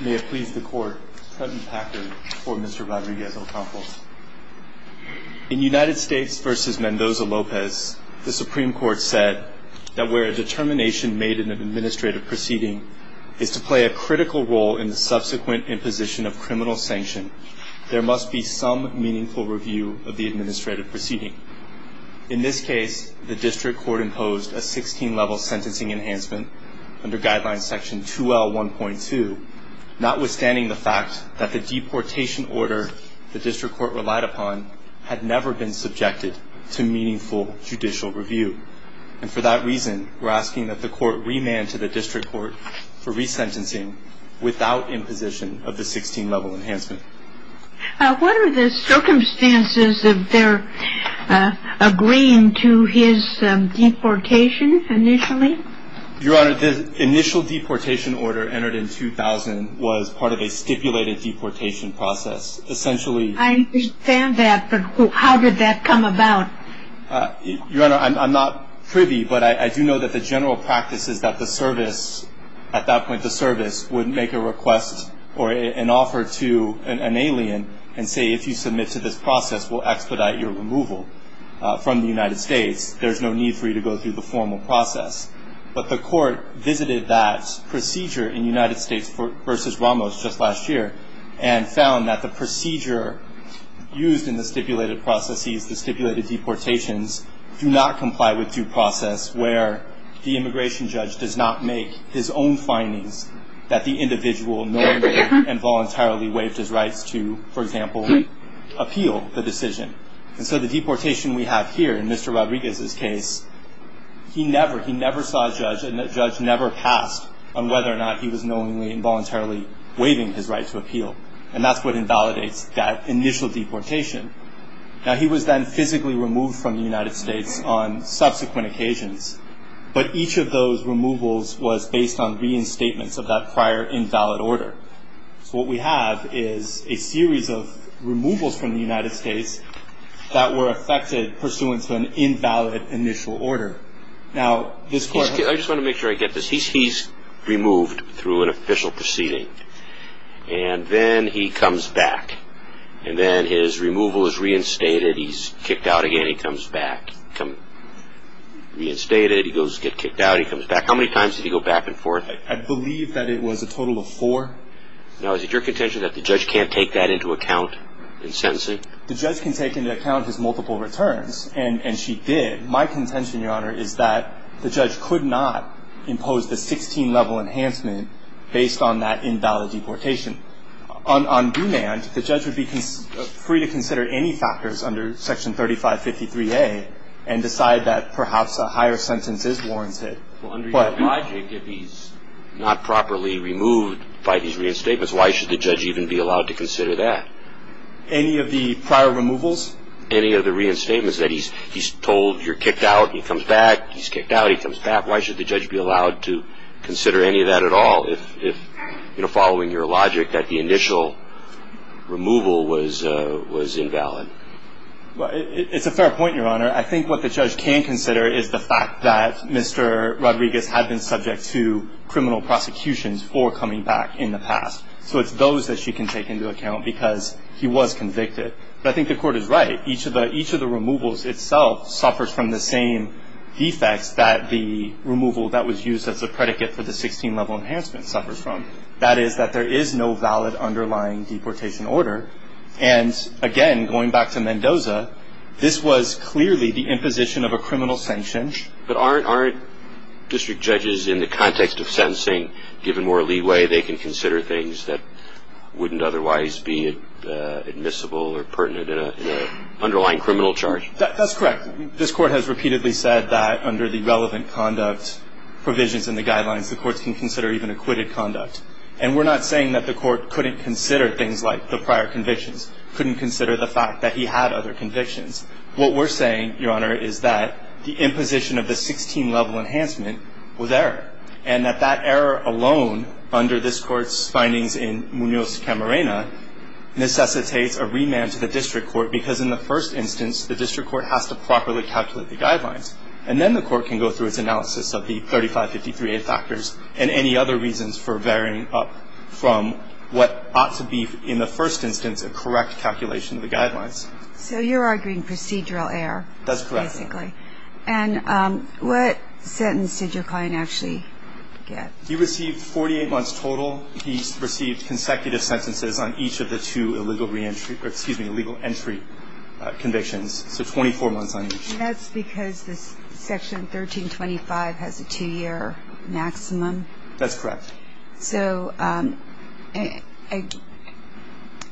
In United States v. Mendoza-Lopez, the Supreme Court said that where a determination made in an administrative proceeding is to play a critical role in the subsequent imposition of criminal sanction, there must be some meaningful review of the administrative proceeding. In this case, the District Court imposed a 16-level sentencing enhancement under Guideline Section 2L1.2, notwithstanding the fact that the deportation order the District Court relied upon had never been subjected to meaningful judicial review. And for that reason, we're asking that the Court remand to the District Court for resentencing without imposition of the 16-level enhancement. What are the circumstances of their agreeing to his deportation initially? Your Honor, the initial deportation order entered in 2000 was part of a stipulated deportation process. Essentially... I understand that, but how did that come about? Your Honor, I'm not privy, but I do know that the general practice is that the service, at that point the service, would make a request or an offer to an alien and say, if you submit to this process, we'll expedite your removal from the United States. There's no need for you to go through the formal process. But the Court visited that procedure in United States v. Ramos just last year and found that the procedure used in the stipulated processes, the stipulated deportations, do not comply with due process where the immigration judge does not make his own findings that the individual knowingly and voluntarily waived his rights to, for example, appeal the decision. And so the deportation we have here in Mr. Rodriguez's case, he never, he never saw a judge and the judge never passed on whether or not he was knowingly and voluntarily waiving his right to appeal. And that's what invalidates that initial deportation. Now, he was then physically removed from the United States on subsequent occasions. But each of those removals was based on reinstatements of that prior invalid order. So what we have is a series of removals from the United States that were affected pursuant to an invalid initial order. Now, this Court. I just want to make sure I get this. He's removed through an official proceeding. And then he comes back. And then his removal is reinstated. He's kicked out again. He comes back. Reinstated. He goes to get kicked out. He comes back. How many times did he go back and forth? I believe that it was a total of four. Now, is it your contention that the judge can't take that into account in sentencing? The judge can take into account his multiple returns. And she did. My contention, Your Honor, is that the judge could not impose the 16-level enhancement based on that invalid deportation. On demand, the judge would be free to consider any factors under Section 3553A and decide that perhaps a higher sentence is warranted. Well, under your logic, if he's not properly removed by these reinstatements, why should the judge even be allowed to consider that? Any of the prior removals? Any of the reinstatements that he's told you're kicked out. He comes back. He's kicked out. He comes back. Why should the judge be allowed to consider any of that at all if, you know, following your logic that the initial removal was invalid? Well, it's a fair point, Your Honor. I think what the judge can consider is the fact that Mr. Rodriguez had been subject to criminal prosecutions for coming back in the past. So it's those that she can take into account because he was convicted. But I think the court is right. Each of the removals itself suffers from the same defects that the removal that was used as a predicate for the 16-level enhancement suffers from. That is that there is no valid underlying deportation order. And again, going back to Mendoza, this was clearly the imposition of a criminal sanction. But aren't district judges, in the context of sentencing, given more leeway, they can consider things that wouldn't otherwise be admissible or pertinent in an underlying criminal charge? That's correct. This Court has repeatedly said that under the relevant conduct provisions in the guidelines, the courts can consider even acquitted conduct. And we're not saying that the court couldn't consider things like the prior convictions, couldn't consider the fact that he had other convictions. What we're saying, Your Honor, is that the imposition of the 16-level enhancement was there. And that that error alone, under this Court's findings in Munoz-Camarena, necessitates a remand to the district court because in the first instance, the district court has to properly calculate the guidelines. And then the court can go through its analysis of the 3553A factors and any other reasons for varying up from what ought to be, in the first instance, a correct calculation of the guidelines. So you're arguing procedural error, basically. That's correct. And what sentence did your client actually get? He received 48 months total. He received consecutive sentences on each of the two illegal reentry, excuse me, illegal entry convictions. So 24 months on each. And that's because this Section 1325 has a two-year maximum? That's correct. So I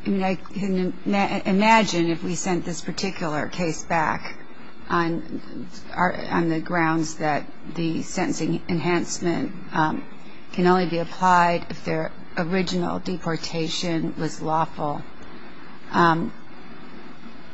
can imagine if we sent this particular case back on the grounds that the sentencing enhancement can only be applied if their original deportation was lawful,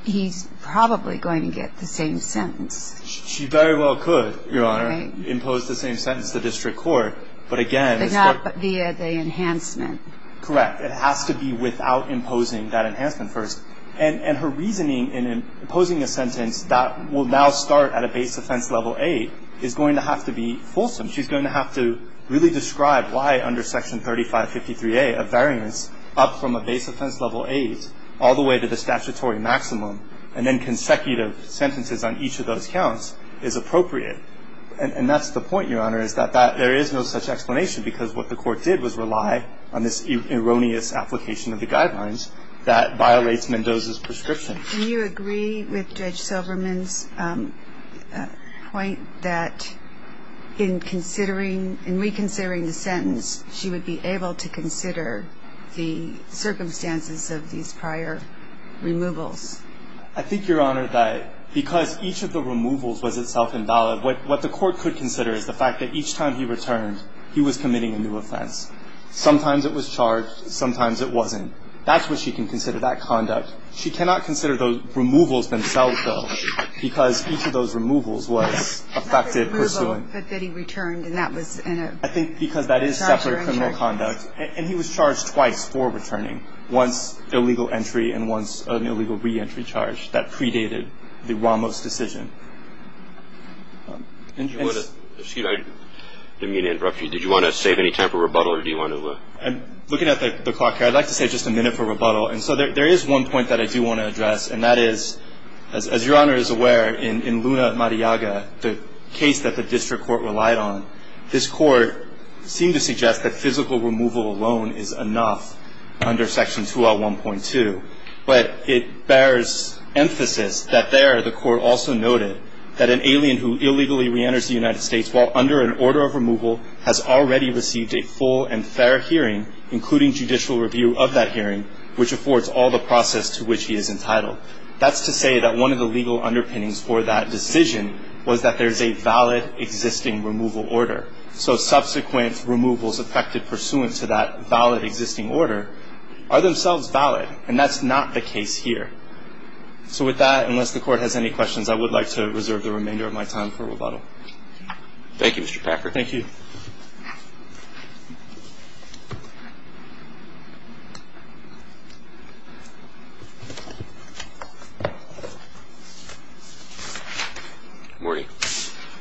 he's probably going to get the same sentence. She very well could, Your Honor, impose the same sentence to the district court. But again, it's not via the enhancement. Correct. It has to be without imposing that enhancement first. And her reasoning in imposing a sentence that will now start at a base offense level A is going to have to be fulsome. She's going to have to really describe why under Section 3553A a variance up from a base offense level A's all the way to the statutory maximum and then consecutive sentences on each of those counts is appropriate. And that's the point, Your Honor, is that there is no such explanation because what the court did was rely on this erroneous application of the guidelines that violates Mendoza's prescription. Do you agree with Judge Silverman's point that in considering, in reconsidering the sentence, she would be able to consider the circumstances of these prior removals? I think, Your Honor, that because each of the removals was itself invalid, what the court could consider is the fact that each time he returned, he was committing a new offense. Sometimes it was charged, sometimes it wasn't. That's what she can consider that conduct. She cannot consider the removals themselves, though, because each of those removals was affected pursuant. But that he returned, and that was in a charge or in charge. I think because that is separate criminal conduct. And he was charged twice for returning, once illegal entry and once an illegal reentry charge that predated the Ramos decision. Excuse me, I didn't mean to interrupt you. Did you want to save any time for rebuttal, or do you want to? I'm looking at the clock here. I'd like to save just a minute for rebuttal. And so there is one point that I do want to address, and that is, as Your Honor is aware, in Luna Mariaga, the case that the district court relied on, this court seemed to suggest that physical removal alone is enough under Section 2L1.2. But it bears emphasis that there, the court also noted that an alien who illegally reenters the United States while under an order of removal has already received a full and fair hearing, including judicial review of that hearing, which affords all the process to which he is entitled. That's to say that one of the legal underpinnings for that decision was that there is a valid existing removal order. So subsequent removals affected pursuant to that valid existing order are themselves valid, and that's not the case here. So with that, unless the court has any questions, I would like to reserve the remainder of my time for rebuttal. Thank you, Mr. Packard. Thank you. Morning.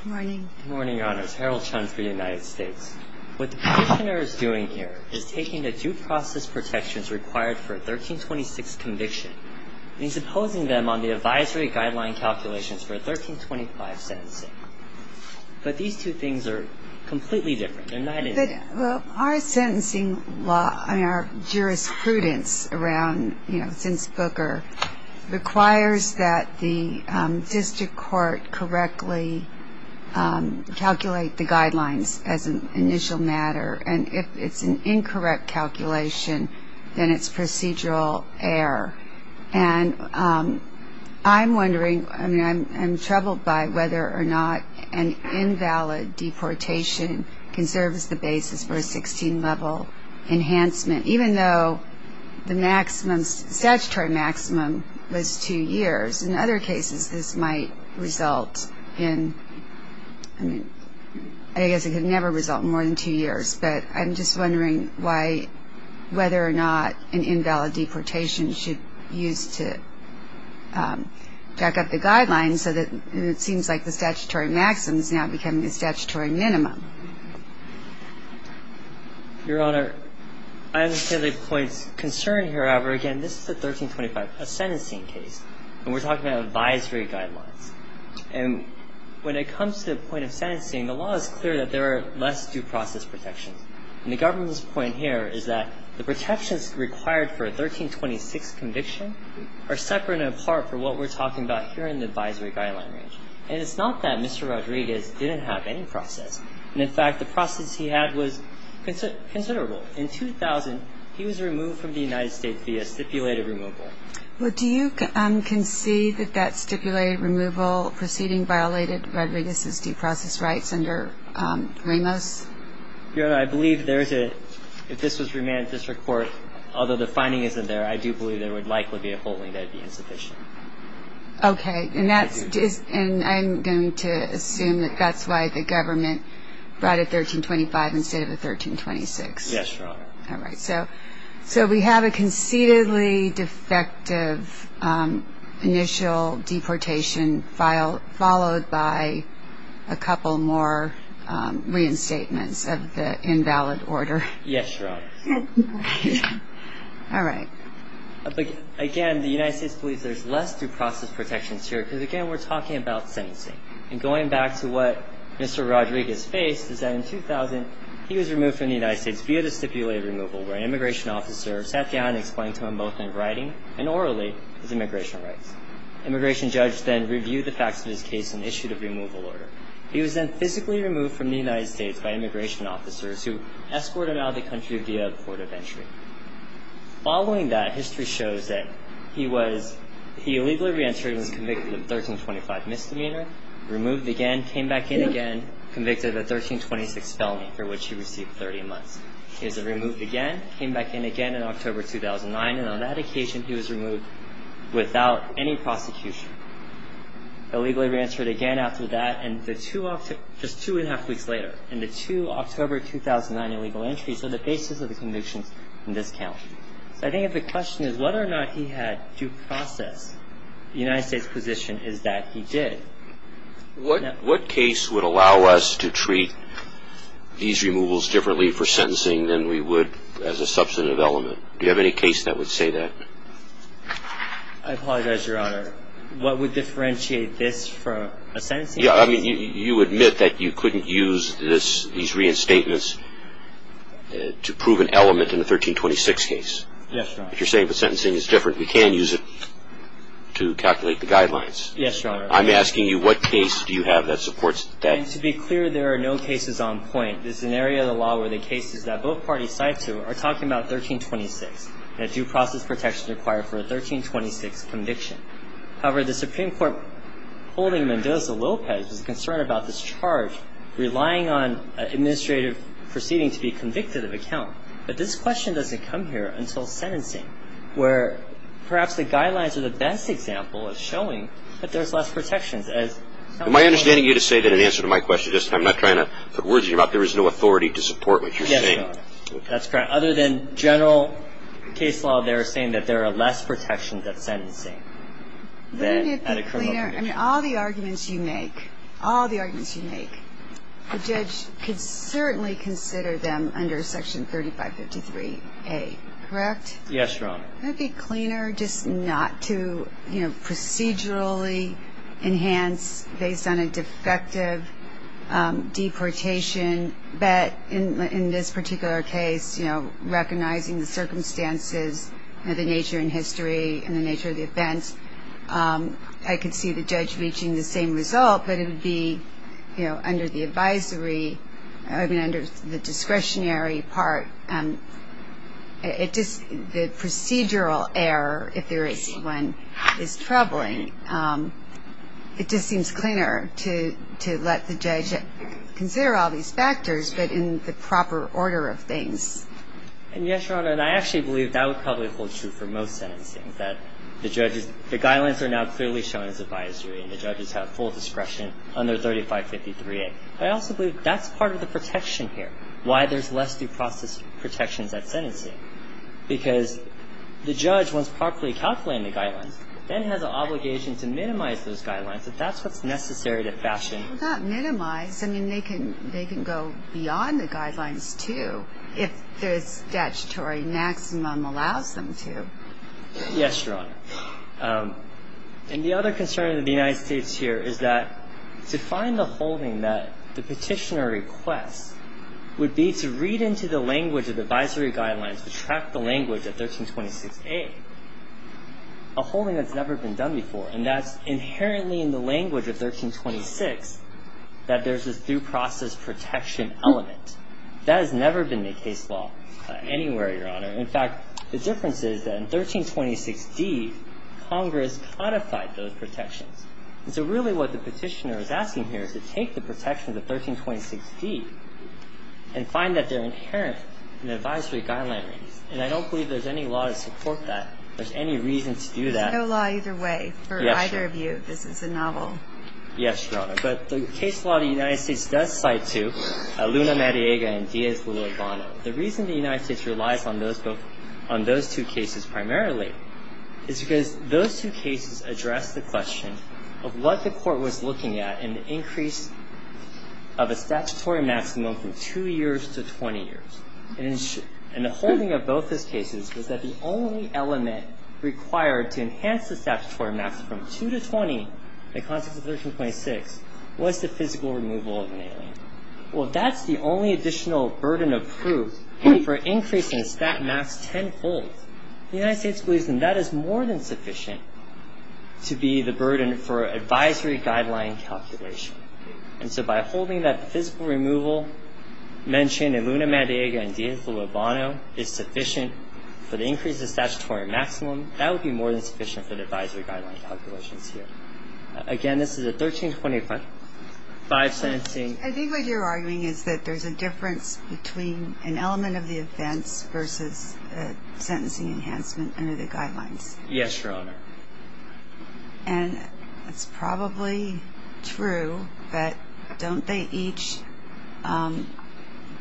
Morning. Morning, Your Honors. Harold Chun for the United States. What the Petitioner is doing here is taking the due process protections required for a 1326 conviction and supposing them on the advisory guideline calculations for a 1325 sentencing. But these two things are completely different. They're not in there. Well, our sentencing law, I mean, our jurisprudence around, you know, since Booker requires that the district court correctly calculate the guidelines as an initial matter. And if it's an incorrect calculation, then it's procedural error. And I'm wondering, I mean, I'm troubled by whether or not an invalid deportation can serve as the basis for a 16-level enhancement, even though the maximum statutory maximum was two years. In other cases, this might result in, I mean, I guess it could never result in more than two years. But I'm just wondering why, whether or not an invalid deportation should be used to back up the guidelines so that it seems like the statutory maximum is now becoming a statutory minimum. Your Honor, I understand the point's concern here. However, again, this is a 1325 sentencing case, and we're talking about advisory guidelines. And when it comes to the point of sentencing, the law is clear that there are less due process protections. And the government's point here is that the protections required for a 1326 conviction are separate and apart for what we're talking about here in the advisory guideline range. And it's not that Mr. Rodriguez didn't have any process. And in fact, the process he had was considerable. In 2000, he was removed from the United States via stipulated removal. Well, do you concede that that stipulated removal proceeding violated Rodriguez's due process rights under Ramos? Your Honor, I believe there is a, if this was remanded district court, although the finding isn't there, I do believe there would likely be a holding that would be insufficient. Okay, and that's, and I'm going to assume that that's why the government brought a 1325 instead of a 1326. Yes, Your Honor. All right, so we have a concededly defective initial deportation filed, followed by a couple more reinstatements of the invalid order. Yes, Your Honor. All right. Again, the United States believes there's less due process protections here, because again, we're talking about sentencing. And going back to what Mr. Rodriguez faced is that in 2000, he was removed from the United States via the stipulated removal, where an immigration officer sat down and explained to him both in writing and orally his immigration rights. Immigration judge then reviewed the facts of his case and issued a removal order. He was then physically removed from the United States by immigration officers who escorted him out of the country via a port of entry. Following that, history shows that he was, he illegally reentered and was convicted of 1325 misdemeanor, removed again, came back in again, convicted of a 1326 felony for which he received 30 months. He was removed again, came back in again in October 2009, and on that occasion, he was removed without any prosecution. Illegally reentered again after that, and the two, just two and a half weeks later, and the two October 2009 illegal entries are the basis of the convictions in this count. So I think if the question is whether or not he had due process, the United States position is that he did. What case would allow us to treat these removals differently for sentencing than we would as a substantive element? Do you have any case that would say that? I apologize, Your Honor. What would differentiate this from a sentencing? Yeah, I mean, you admit that you couldn't use this, these reinstatements to prove an element in the 1326 case. Yes, Your Honor. If you're saying the sentencing is different, we can use it to calculate the guidelines. Yes, Your Honor. I'm asking you what case do you have that supports that? And to be clear, there are no cases on point. This is an area of the law where the cases that both parties cite to are talking about 1326, that due process protection is required for a 1326 conviction. However, the Supreme Court holding Mendoza-Lopez is concerned about this charge, relying on an administrative proceeding to be convicted of a count. But this question doesn't come here until sentencing, where perhaps the guidelines are the best example of showing that there's less protections. Am I understanding you to say that in answer to my question, I'm not trying to put words in your mouth, there is no authority to support what you're saying? Yes, Your Honor. That's correct. Other than general case law, they're saying that there are less protections at sentencing than at a criminal conviction. I mean, all the arguments you make, all the arguments you make, the judge could certainly consider them under Section 3553A, correct? Yes, Your Honor. It would be cleaner just not to procedurally enhance based on a defective deportation, but in this particular case, recognizing the circumstances and the nature and history and the nature of the events, I could see the judge reaching the same result, but it would be under the advisory, I mean, under the discretionary part. The procedural error, if there is one, is troubling. It just seems cleaner to let the judge consider all these factors, but in the proper order of things. And yes, Your Honor, and I actually believe that would probably hold true for most sentencing, that the guidelines are now clearly shown as advisory and the judges have full discretion under 3553A. But I also believe that's part of the protection here, why there's less due process protections at sentencing, because the judge, once properly calculating the guidelines, then has an obligation to minimize those guidelines, if that's what's necessary to fashion. Well, not minimize. I mean, they can go beyond the guidelines, too, if the statutory maximum allows them to. Yes, Your Honor. And the other concern of the United States here is that to find the holding that the petitioner requests would be to read into the language of the advisory guidelines, to track the language of 1326A, a holding that's never been done before, and that's inherently in the language of 1326, that there's a due process protection element. In fact, the difference is that in 1326D, Congress codified those protections. And so really what the petitioner is asking here is to take the protections of 1326D and find that they're inherent in the advisory guidelines. And I don't believe there's any law to support that. There's any reason to do that. There's no law either way for either of you. Yes, Your Honor. This is a novel. Yes, Your Honor. But the case law of the United States does cite two, Luna Mariega and Diaz Lula Bono. The reason the United States relies on those two cases primarily is because those two cases address the question of what the court was looking at in the increase of a statutory maximum from 2 years to 20 years. And the holding of both those cases was that the only element required to enhance the statutory maximum from 2 to 20 in the context of 1326 was the physical removal of an alien. Well, that's the only additional burden of proof for increasing the stat max tenfold. The United States believes that that is more than sufficient to be the burden for advisory guideline calculation. And so by holding that physical removal mentioned in Luna Mariega and Diaz Lula Bono is sufficient for the increase of statutory maximum, that would be more than sufficient for the advisory guideline calculations here. Again, this is a 1325 sentencing. I think what you're arguing is that there's a difference between an element of the offense versus a sentencing enhancement under the guidelines. Yes, Your Honor. And it's probably true, but don't they each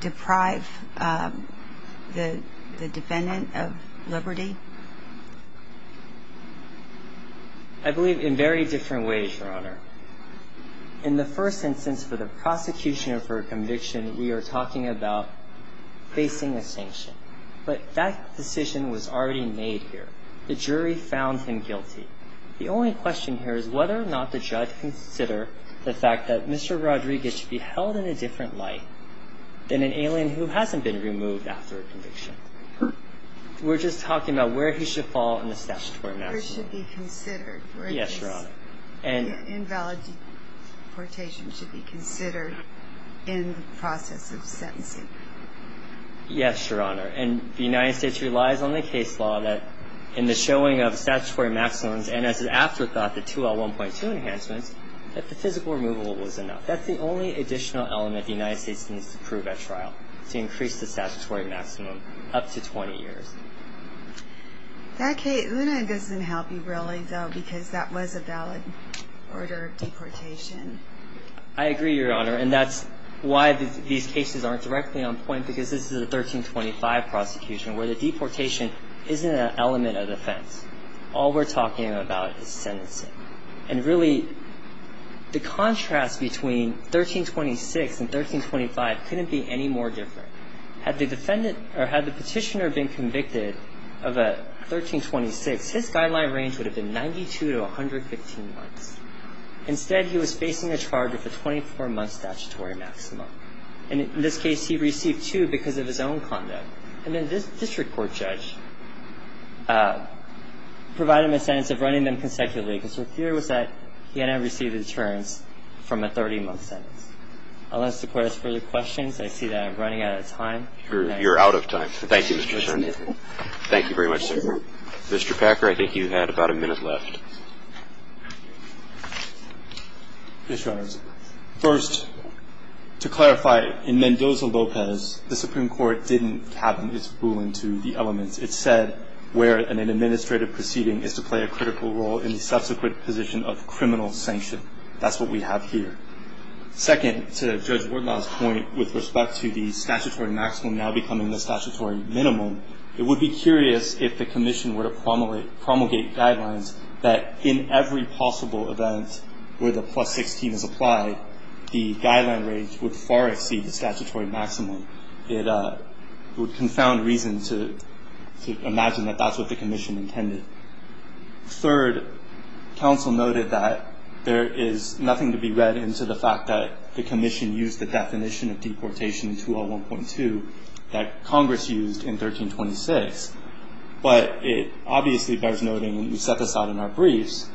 deprive the defendant of liberty? In the first instance, for the prosecution of her conviction, we are talking about facing a sanction. But that decision was already made here. The jury found him guilty. The only question here is whether or not the judge can consider the fact that Mr. Rodriguez should be held in a different light than an alien who hasn't been removed after a conviction. We're just talking about where he should fall in the statutory maximum. Yes, Your Honor. And invalid deportation should be considered in the process of sentencing. Yes, Your Honor. And the United States relies on the case law that in the showing of statutory maximums and as an afterthought, the 2L1.2 enhancements, that the physical removal was enough. That's the only additional element the United States needs to prove at trial, to increase the statutory maximum up to 20 years. That case doesn't help you really, though, because that was a valid order of deportation. I agree, Your Honor. And that's why these cases aren't directly on point, because this is a 1325 prosecution, where the deportation isn't an element of defense. All we're talking about is sentencing. And really, the contrast between 1326 and 1325 couldn't be any more different. Had the petitioner been convicted of a 1326, his guideline range would have been 92 to 115 months. Instead, he was facing a charge of a 24-month statutory maximum. And in this case, he received two because of his own conduct. And then this district court judge provided him a sentence of running them consecutively, because her theory was that he had not received a deterrence from a 30-month sentence. Unless the court has further questions, I see that I'm running out of time. You're out of time. Thank you, Mr. Chairman. Thank you very much, sir. Mr. Packer, I think you had about a minute left. Yes, Your Honor. First, to clarify, in Mendoza-Lopez, the Supreme Court didn't have its ruling to the elements. It said where an administrative proceeding is to play a critical role in the subsequent position of criminal sanction. That's what we have here. Second, to Judge Wortenau's point with respect to the statutory maximum now becoming the statutory minimum, it would be curious if the commission were to promulgate guidelines that in every possible event where the plus 16 is applied, the guideline range would far exceed the statutory maximum. It would confound reason to imagine that that's what the commission intended. Third, counsel noted that there is nothing to be read into the fact that the commission used the definition of deportation in 201.2 that Congress used in 1326. But it obviously bears noting, and you set this out in our briefs,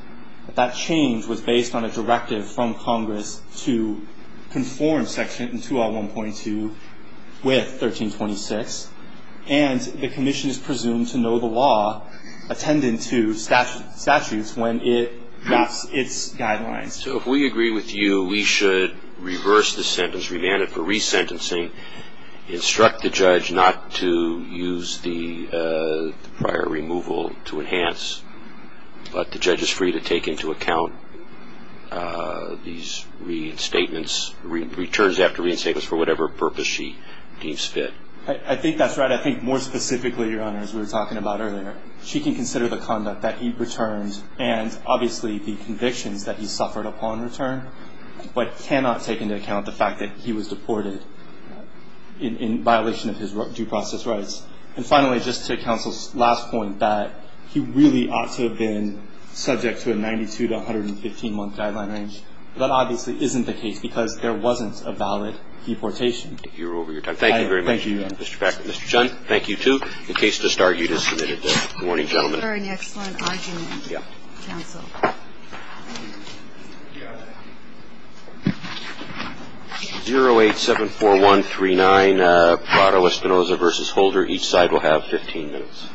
that that change was based on a directive from Congress to conform Section 201.2 with 1326, and the commission is presumed to know the law attendant to statutes when it wraps its guidelines. So if we agree with you, we should reverse the sentence, remand it for resentencing, instruct the judge not to use the prior removal to enhance, but the judge is free to take into account these reinstatements, returns after reinstatements for whatever purpose she deems fit. I think that's right. I think more specifically, Your Honors, we were talking about earlier, she can consider the conduct that he returns and obviously the convictions that he suffered upon return, but cannot take into account the fact that he was deported in violation of his due process rights. And finally, just to counsel's last point, that he really ought to have been subject to a 92- to 115-month guideline range. But that obviously isn't the case because there wasn't a valid deportation. You're over your time. Thank you very much, Mr. Packard. Mr. Chun, thank you, too. The case just argued is submitted. Good morning, gentlemen. Very excellent argument, counsel. 0874139, Prado-Espinoza v. Holder. Each side will have 15 minutes.